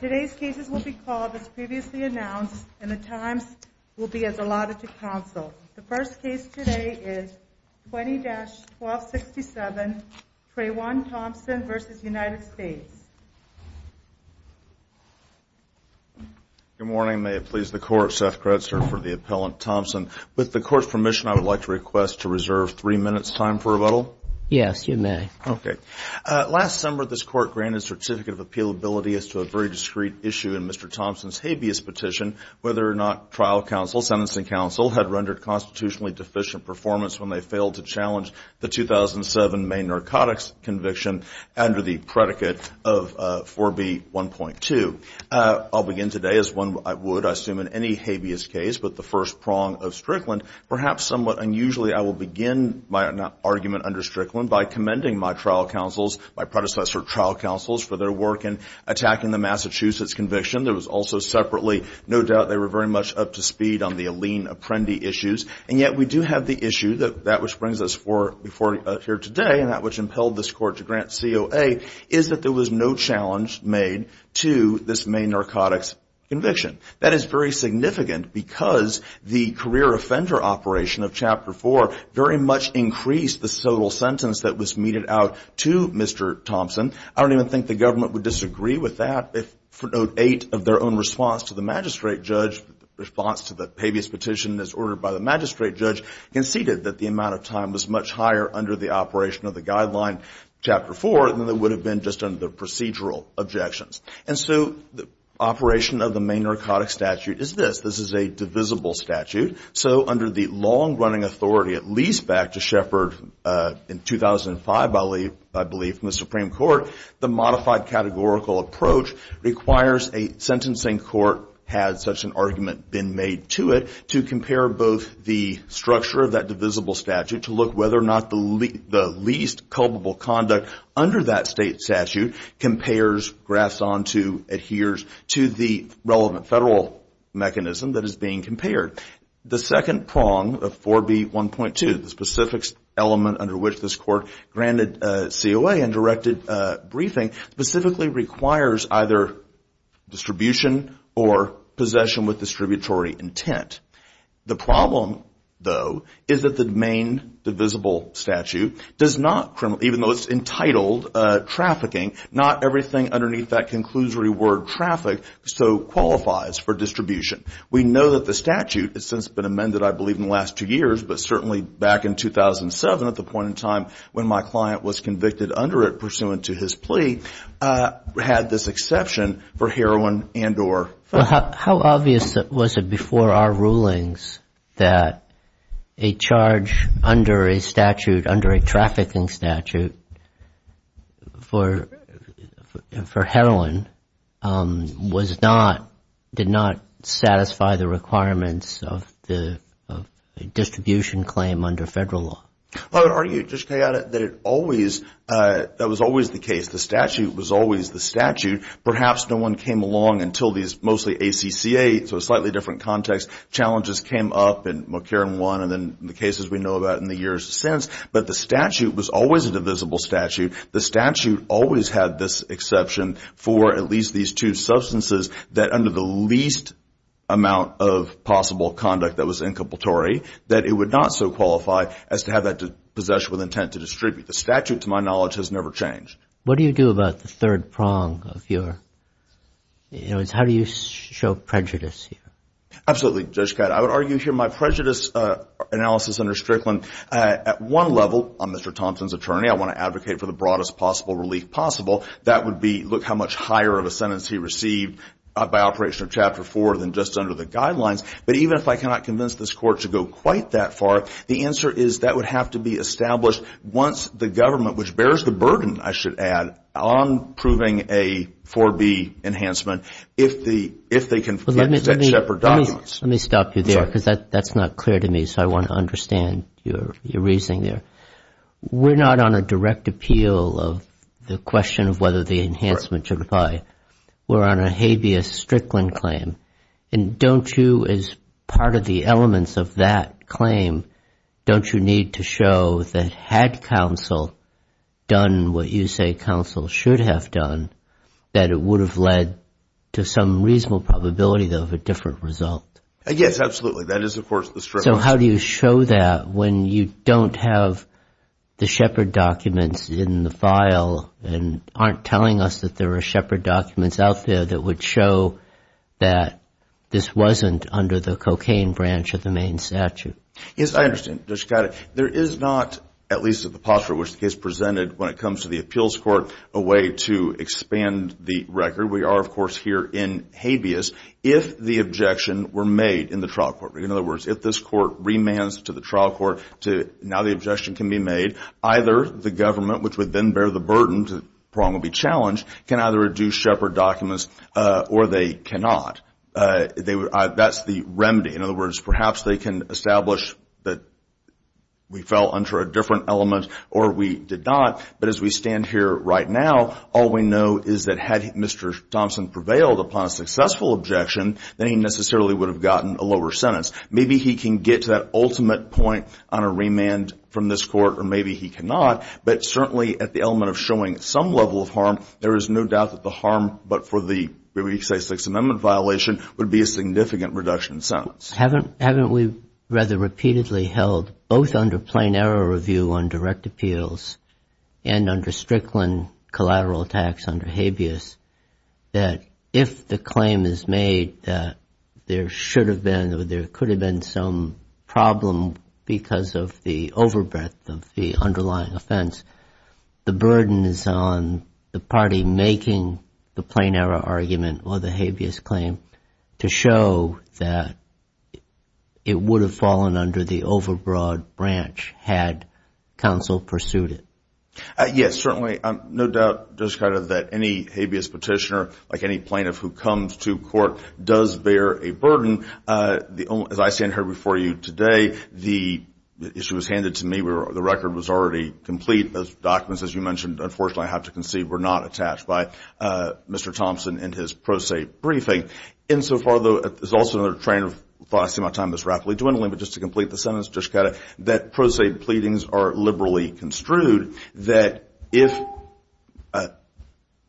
Today's cases will be called as previously announced, and the times will be as allotted to counsel. The first case today is 20-1267, Trayvon Thompson v. United States. Good morning. May it please the Court, Seth Gretzer for the Appellant Thompson. With the Court's permission, I would like to request to reserve three minutes' time for rebuttal. Yes, you may. Okay. So a very discreet issue in Mr. Thompson's habeas petition, whether or not trial counsel, sentencing counsel, had rendered constitutionally deficient performance when they failed to challenge the 2007 Maine Narcotics Conviction under the predicate of 4B1.2. I'll begin today as one would, I assume, in any habeas case, but the first prong of Strickland, perhaps somewhat unusually, I will begin my argument under Strickland by commending my trial counsels, my predecessor trial counsels, for their work in attacking the Massachusetts conviction. There was also separately, no doubt, they were very much up to speed on the Alene Apprendi issues. And yet we do have the issue, that which brings us here today, and that which impelled this Court to grant COA, is that there was no challenge made to this Maine Narcotics Conviction. That is very significant because the career offender operation of Chapter 4 very much increased the sole sentence that was meted out to Mr. Thompson. I don't even think the government would disagree with that if for note 8 of their own response to the magistrate judge, response to the habeas petition as ordered by the magistrate judge, conceded that the amount of time was much higher under the operation of the guideline Chapter 4 than it would have been just under the procedural objections. And so the operation of the Maine Narcotics Statute is this. This is a divisible statute. So under the long-running authority, at least back to Shepard in 2005, I believe, from the Supreme Court, the modified categorical approach requires a sentencing court, had such an argument been made to it, to compare both the structure of that divisible statute, to look whether or not the least culpable conduct under that state statute compares, grafts onto, adheres to the relevant federal mechanism that is being compared. The second prong of 4B1.2, the specifics element under which this court granted COA and directed a briefing, specifically requires either distribution or possession with distributory intent. The problem, though, is that the Maine divisible statute does not, even though it's entitled trafficking, not everything underneath that conclusory word traffic so qualifies for distribution. We know that the statute has since been amended, I believe, in the last two years, but certainly back in 2007 at the point in time when my client was convicted under it pursuant to his plea, had this exception for heroin and or. How obvious was it before our rulings that a charge under a statute, under a trafficking statute, for heroin was not, did not satisfy the requirements of the distribution claim under federal law? I would argue, just to add it, that it always, that was always the case. The statute was always the statute. Perhaps no one came along until these mostly ACCA, so a slightly different context, challenges came up and McCarran won and then the cases we know about in the years since, but the statute was always a divisible statute. The statute always had this exception for at least these two substances that under the least amount of possible conduct that was incompletory, that it would not so qualify as to have that possession with intent to distribute. The statute, to my knowledge, has never changed. What do you do about the third prong of your, in other words, how do you show prejudice here? Absolutely, Judge Katz. I would argue here my prejudice analysis under Strickland at one level, on Mr. Thompson's attorney, I want to advocate for the broadest possible relief possible. That would be, look how much higher of a sentence he received by operation of Chapter 4 than just under the guidelines. But even if I cannot convince this Court to go quite that far, the answer is that would have to be established once the government, which bears the burden, I should add, on proving a 4B enhancement, if the, if they can get separate documents. Let me stop you there because that's not clear to me, so I want to understand your reasoning there. We're not on a direct appeal of the question of whether the enhancement should apply. We're on a habeas Strickland claim, and don't you, as part of the elements of that claim, don't you need to show that had counsel done what you say counsel should have done, that it would have led to some reasonable probability, though, of a different result? Yes, absolutely. That is, of course, the Strickland. So how do you show that when you don't have the Shepard documents in the file and aren't telling us that there are Shepard documents out there that would show that this wasn't under the cocaine branch of the main statute? Yes, I understand, Judge Scott. There is not, at least at the posture in which the case presented when it comes to the appeals court, a way to expand the record. We are, of course, here in habeas if the objection were made in the trial court. In other words, if this court remands to the trial court to now the objection can be made, either the government, which would then bear the burden to Prong would be challenged, can either reduce Shepard documents or they cannot. That's the remedy. In other words, perhaps they can establish that we fell under a different element or we did not, but as we stand here right now, all we know is that had Mr. Thompson prevailed upon a successful objection, then he necessarily would have gotten a lower sentence. Maybe he can get to that ultimate point on a remand from this court or maybe he cannot, but certainly at the element of showing some level of harm, there is no doubt that the harm but for the, say, Sixth Amendment violation would be a significant reduction in sentence. Haven't we rather repeatedly held, both under plain error review on direct appeals and under If the claim is made that there should have been or there could have been some problem because of the overbreadth of the underlying offense, the burden is on the party making the plain error argument or the habeas claim to show that it would have fallen under the overbroad branch had counsel pursued it. Yes, certainly. No doubt, just kind of that any habeas petitioner, like any plaintiff who comes to court, does bear a burden. As I stand here before you today, the issue was handed to me where the record was already complete. Those documents, as you mentioned, unfortunately I have to concede, were not attached by Mr. Thompson in his pro se briefing. In so far though, there's also another train of thought, I see my time is rapidly dwindling, but just to complete the sentence, just kind of that pro se pleadings are liberally construed that if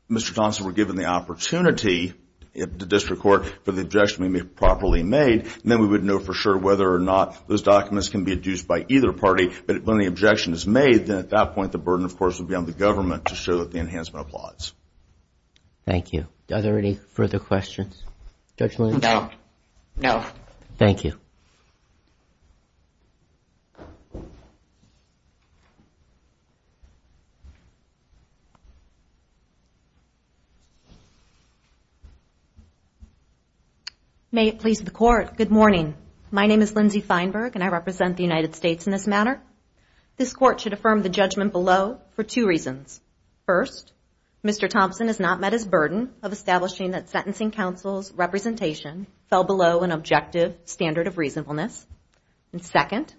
Mr. Thompson were given the opportunity at the district court for the objection to be properly made, then we would know for sure whether or not those documents can be adduced by either party. But when the objection is made, then at that point, the burden, of course, would be on the government to show that the enhancement applies. Thank you. Are there any further questions? Judge Lynn? No. No. Thank you. May it please the court, good morning. My name is Lindsay Feinberg and I represent the United States in this matter. This court should affirm the judgment below for two reasons. First, Mr. Thompson is not met his burden of establishing that sentencing counsel's representation fell below an objective standard of reasonableness, and second,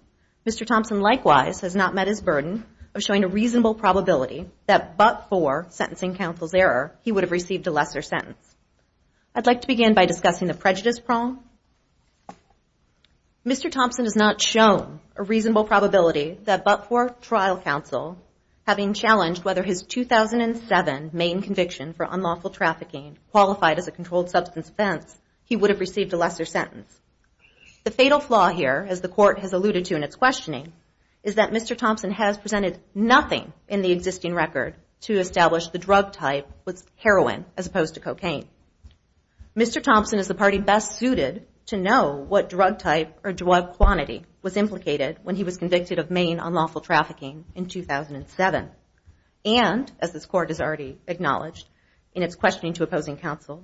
Mr. Thompson likewise has not met his burden of showing a reasonable probability that but for sentencing counsel's error, he would have received a lesser sentence. I'd like to begin by discussing the prejudice problem. Mr. Thompson has not shown a reasonable probability that but for trial counsel having challenged whether his 2007 main conviction for unlawful trafficking qualified as a controlled substance offense, he would have received a lesser sentence. The fatal flaw here, as the court has alluded to in its questioning, is that Mr. Thompson has presented nothing in the existing record to establish the drug type was heroin as opposed to cocaine. Mr. Thompson is the party best suited to know what drug type or drug quantity was implicated when he was convicted of main unlawful trafficking in 2007, and as this court has already acknowledged in its questioning to opposing counsel,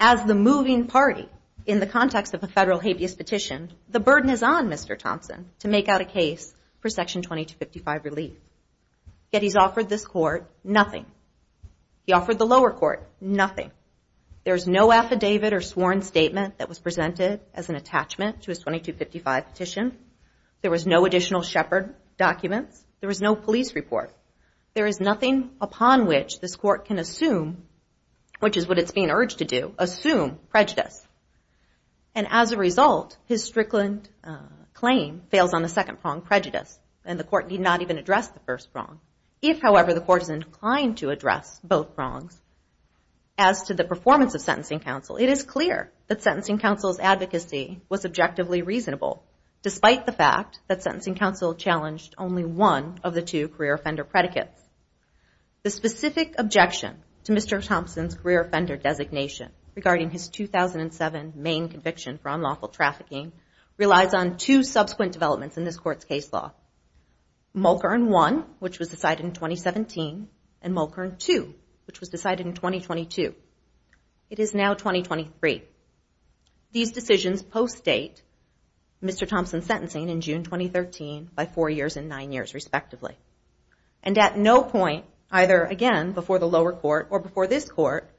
as the moving party in the context of a federal habeas petition, the burden is on Mr. Thompson to make out a case for Section 2255 relief. Yet he's offered this court nothing. He offered the lower court nothing. There's no affidavit or sworn statement that was presented as an attachment to a 2255 petition. There was no additional Shepard documents. There was no police report. There is nothing upon which this court can assume, which is what it's being urged to do, assume prejudice. And as a result, his Strickland claim fails on the second prong, prejudice, and the court did not even address the first prong. If, however, the court is inclined to address both prongs, as to the performance of sentencing counsel, it is clear that sentencing counsel's advocacy was objectively reasonable, despite the fact that sentencing counsel challenged only one of the two career offender predicates. The specific objection to Mr. Thompson's career offender designation, regarding his 2007 main conviction for unlawful trafficking, relies on two subsequent developments in this court's case law. Mulchern 1, which was decided in 2017, and Mulchern 2, which was decided in 2022. It is now 2023. These decisions post-date Mr. Thompson's sentencing in June 2013, by four years and nine years respectively. And at no point, either, again, before the lower court or before this court,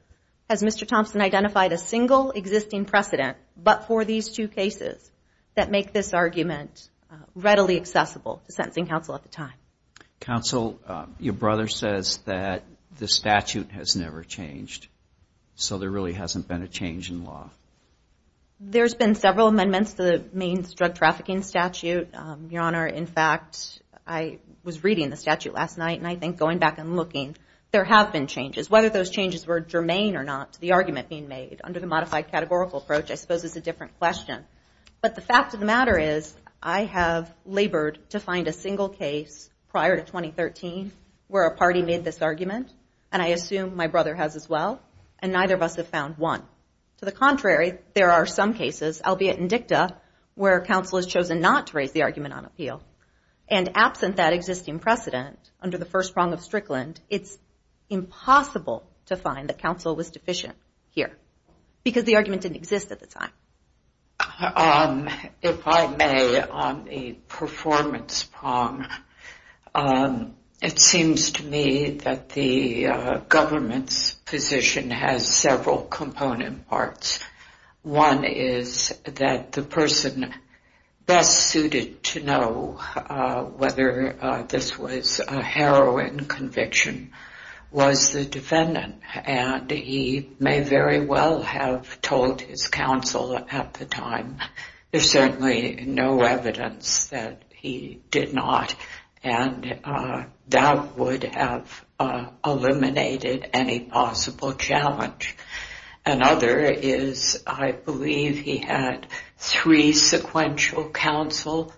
has Mr. Thompson identified a single existing precedent, but for these two cases, that make this argument readily accessible to sentencing counsel at the time. Counsel, your brother says that the statute has never changed, so there really hasn't been a change in law. There's been several amendments to the Main Drug Trafficking Statute, Your Honor. In fact, I was reading the statute last night, and I think going back and looking, there have been changes. Whether those changes were germane or not, to the argument being made, under the modified categorical approach, I suppose is a different question. But the fact of the matter is, I have labored to find a single case, prior to 2013, where a party made this argument, and I assume my brother has as well, and neither of us have found one. To the contrary, there are some cases, albeit in dicta, where counsel has chosen not to raise the argument on appeal. And absent that existing precedent, under the first prong of Strickland, it's impossible to find that counsel was deficient here, because the argument didn't exist at the time. If I may, on the performance prong, it seems to me that the government's position has several component parts. One is that the person best suited to know whether this was a heroin conviction was the defendant, and he may very well have told his counsel at the time. There's certainly no evidence that he did not, and that would have eliminated any possible challenge. Another is, I believe he had three sequential counsel,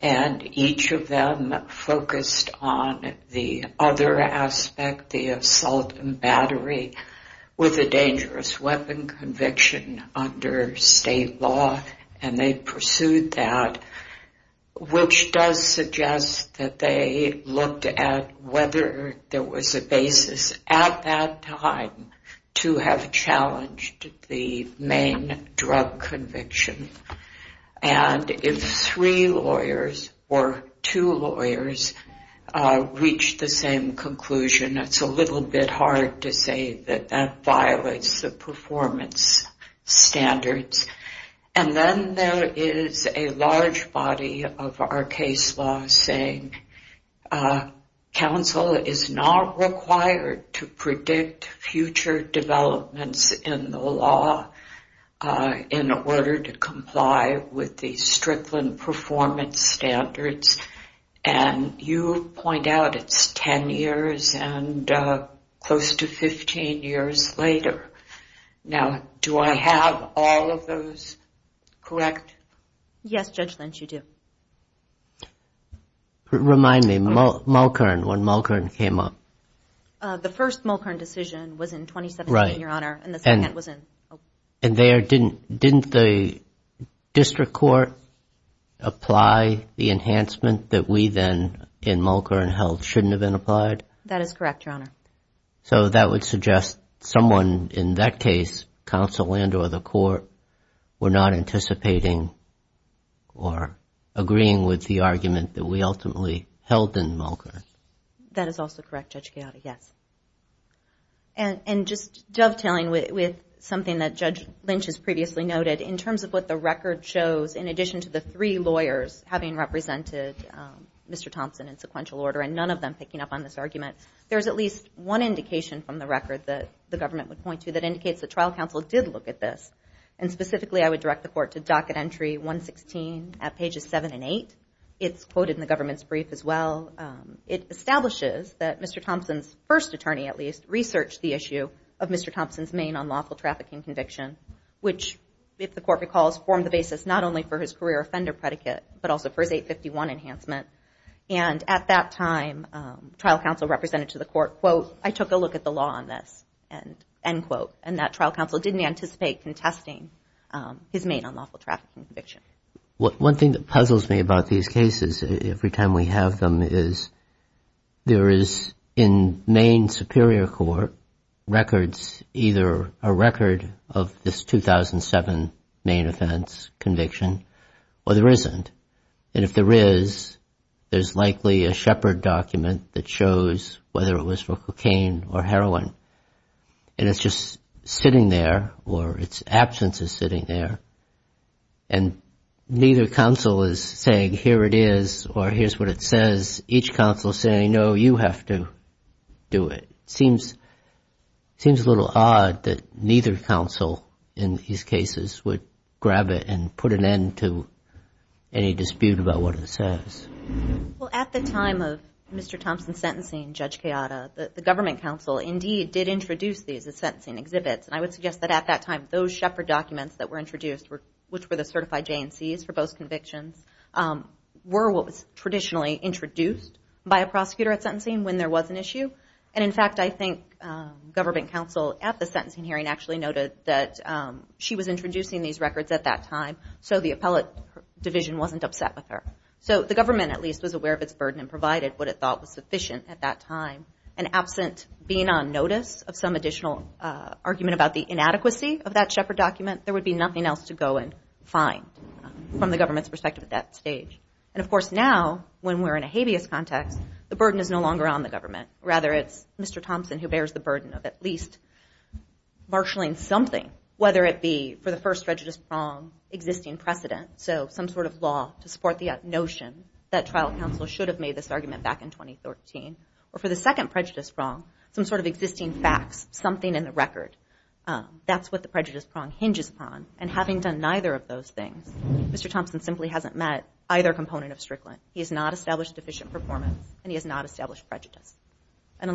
and each of them focused on the other aspect, the assault and battery, with a dangerous weapon conviction under state law. And they pursued that, which does suggest that they looked at whether there was a basis at that time to have challenged the main drug conviction. And if three lawyers or two lawyers reached the same conclusion, it's a little bit hard to say that that violates the performance standards. And then there is a large body of our case law saying counsel is not required to predict future developments in the law in order to comply with the Strickland performance standards. And you point out it's 10 years and close to 15 years later. Now, do I have all of those correct? Yes, Judge Lynch, you do. Remind me, Mulkern, when Mulkern came up. The first Mulkern decision was in 2017, Your Honor, and the second was in... And there, didn't the district court apply the enhancement that we then, in Mulkern, held shouldn't have been applied? That is correct, Your Honor. So that would suggest someone in that case, counsel and or the court, were not anticipating or agreeing with the argument that we ultimately held in Mulkern. That is also correct, Judge Giotta, yes. And just dovetailing with something that Judge Lynch has previously noted, in terms of what the record shows, in addition to the three lawyers having represented Mr. Thompson in one indication from the record that the government would point to that indicates the trial counsel did look at this. And specifically, I would direct the court to docket entry 116 at pages 7 and 8. It's quoted in the government's brief as well. It establishes that Mr. Thompson's first attorney, at least, researched the issue of Mr. Thompson's main unlawful trafficking conviction, which, if the court recalls, formed the basis not only for his career offender predicate, but also for his 851 enhancement. And at that time, trial counsel represented to the court, quote, I took a look at the law on this, end quote. And that trial counsel didn't anticipate contesting his main unlawful trafficking conviction. One thing that puzzles me about these cases, every time we have them, is there is, in Maine Superior Court, records, either a record of this 2007 Maine offense conviction, or there isn't. And if there is, there's likely a Shepard document that shows whether it was for cocaine or heroin. And it's just sitting there, or its absence is sitting there. And neither counsel is saying, here it is, or here's what it says. Each counsel is saying, no, you have to do it. Seems a little odd that neither counsel, in these cases, would grab it and put an end to any dispute about what it says. Well, at the time of Mr. Thompson's sentencing, Judge Kayada, the government counsel, indeed, did introduce these as sentencing exhibits. And I would suggest that at that time, those Shepard documents that were introduced, which were the certified J&Cs for both convictions, were what was traditionally introduced by a prosecutor at sentencing when there was an issue. And in fact, I think government counsel, at the sentencing hearing, actually noted that she was introducing these records at that time. So the appellate division wasn't upset with her. So the government, at least, was aware of its burden and provided what it thought was sufficient at that time. And absent being on notice of some additional argument about the inadequacy of that Shepard document, there would be nothing else to go and find from the government's perspective at that stage. And of course, now, when we're in a habeas context, the burden is no longer on the government. Rather, it's Mr. Thompson who bears the burden of at least marshalling something, whether it be, for the first prejudice prong, existing precedent. So some sort of law to support the notion that trial counsel should have made this argument back in 2013. Or for the second prejudice prong, some sort of existing facts, something in the record. That's what the prejudice prong hinges upon. And having done neither of those things, Mr. Thompson simply hasn't met either component of Strickland. He has not established deficient performance, and he has not established prejudice. I'd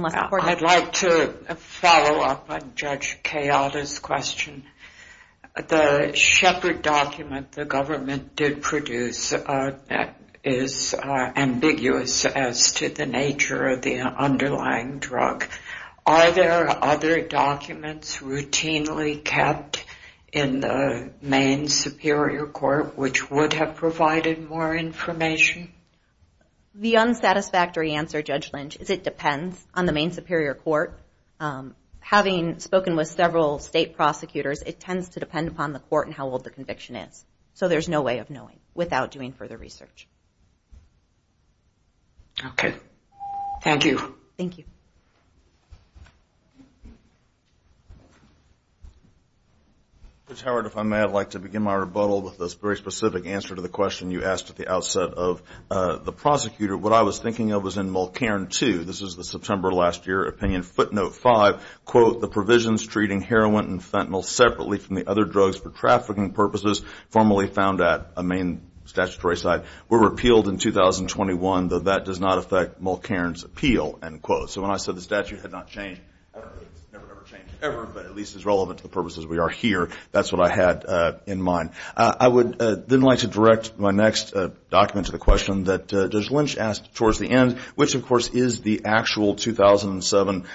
like to follow up on Judge Cayatta's question. The Shepard document the government did produce is ambiguous as to the nature of the underlying drug. Are there other documents routinely kept in the Maine Superior Court which would have provided more information? The unsatisfactory answer, Judge Lynch, is it depends on the Maine Superior Court. Having spoken with several state prosecutors, it tends to depend upon the court and how old the conviction is. So there's no way of knowing without doing further research. Okay. Thank you. Thank you. Judge Howard, if I may, I'd like to begin my rebuttal with this very specific answer to the question you asked at the outset of the prosecutor. What I was thinking of was in Mulcairn 2. This is the September last year opinion footnote 5, quote, the provisions treating heroin and fentanyl separately from the other drugs for trafficking purposes formally found at a Maine statutory site were repealed in 2021, though that does not affect Mulcairn's appeal, end quote. So when I said the statute had not changed, it's never ever changed ever, but at least as relevant to the purposes we are here, that's what I had in mind. I would then like to direct my next document to the question that Judge Lynch asked towards the end, which of course is the actual 2007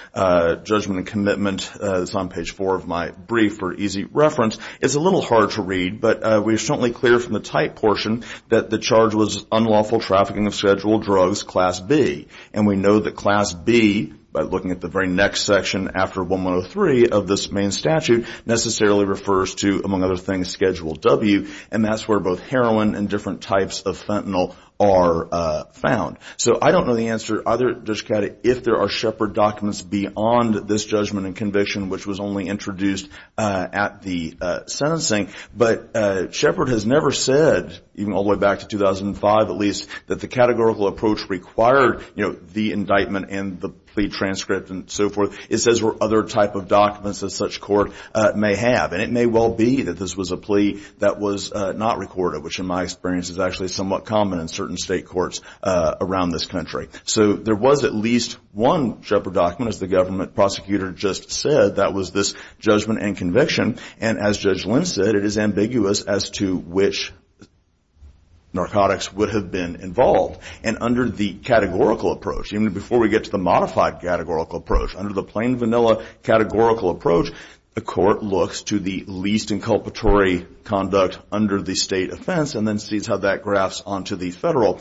judgment and commitment that's on page four of my brief for easy reference. It's a little hard to read, but we're certainly clear from the type portion that the charge was unlawful trafficking of scheduled drugs, class B, and we know that class B, by looking at the very next section after 1103 of this Maine statute, necessarily refers to, among other things, Schedule W, and that's where both heroin and different types of fentanyl are found. So I don't know the answer, Judge Cata, if there are Sheppard documents beyond this judgment and conviction, which was only introduced at the sentencing, but Sheppard has never said, even all the way back to 2005 at least, that the categorical approach required, you know, the indictment and the plea transcript and so forth. It says other type of documents that such court may have, and it may well be that this was a plea that was not recorded, which in my experience is actually somewhat common in certain state courts around this country. So there was at least one Sheppard document, as the government prosecutor just said, that was this judgment and conviction, and as Judge Lynch said, it is ambiguous as to which narcotics would have been involved. And under the categorical approach, even before we get to the modified categorical approach, under the plain vanilla categorical approach, the court looks to the least inculpatory conduct under the state offense and then sees how that graphs onto the federal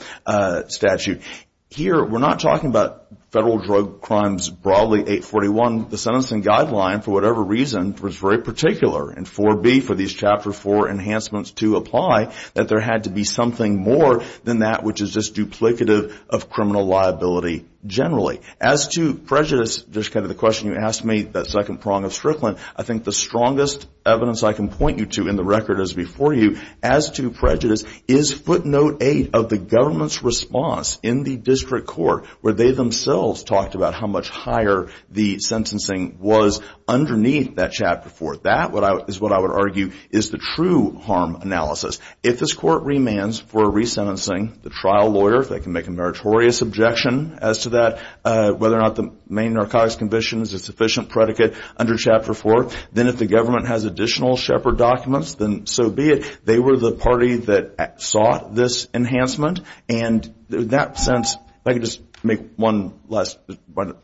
statute. Here we're not talking about federal drug crimes broadly, 841. The sentencing guideline, for whatever reason, was very particular in 4B for these Chapter 4 enhancements to apply, that there had to be something more than that which is just duplicative of criminal liability generally. As to prejudice, just kind of the question you asked me, that second prong of Strickland, I think the strongest evidence I can point you to in the record as before you, as to prejudice, is footnote 8 of the government's response in the district court, where they themselves talked about how much higher the sentencing was underneath that Chapter 4. That is what I would argue is the true harm analysis. If this court remands for resentencing, the trial lawyer, if they can make a meritorious objection as to that, whether or not the main narcotics conviction is a sufficient predicate under Chapter 4, then if the government has additional Shepard documents, then so be it. They were the party that sought this enhancement, and in that sense, if I could just make one last point.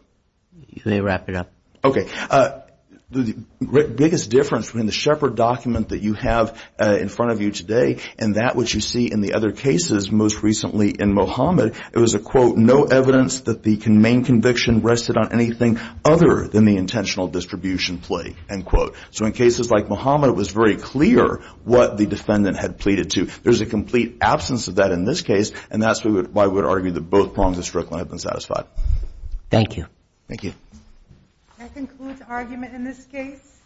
Can you wrap it up? Okay. The biggest difference between the Shepard document that you have in front of you today and that which you see in the other cases, most recently in Mohamed, it was a, quote, no evidence that the main conviction rested on anything other than the intentional distribution plea, end quote. So in cases like Mohamed, it was very clear what the defendant had pleaded to. There's a complete absence of that in this case, and that's why I would argue that both prongs of Strickland have been satisfied. Thank you. Thank you. That concludes argument in this case.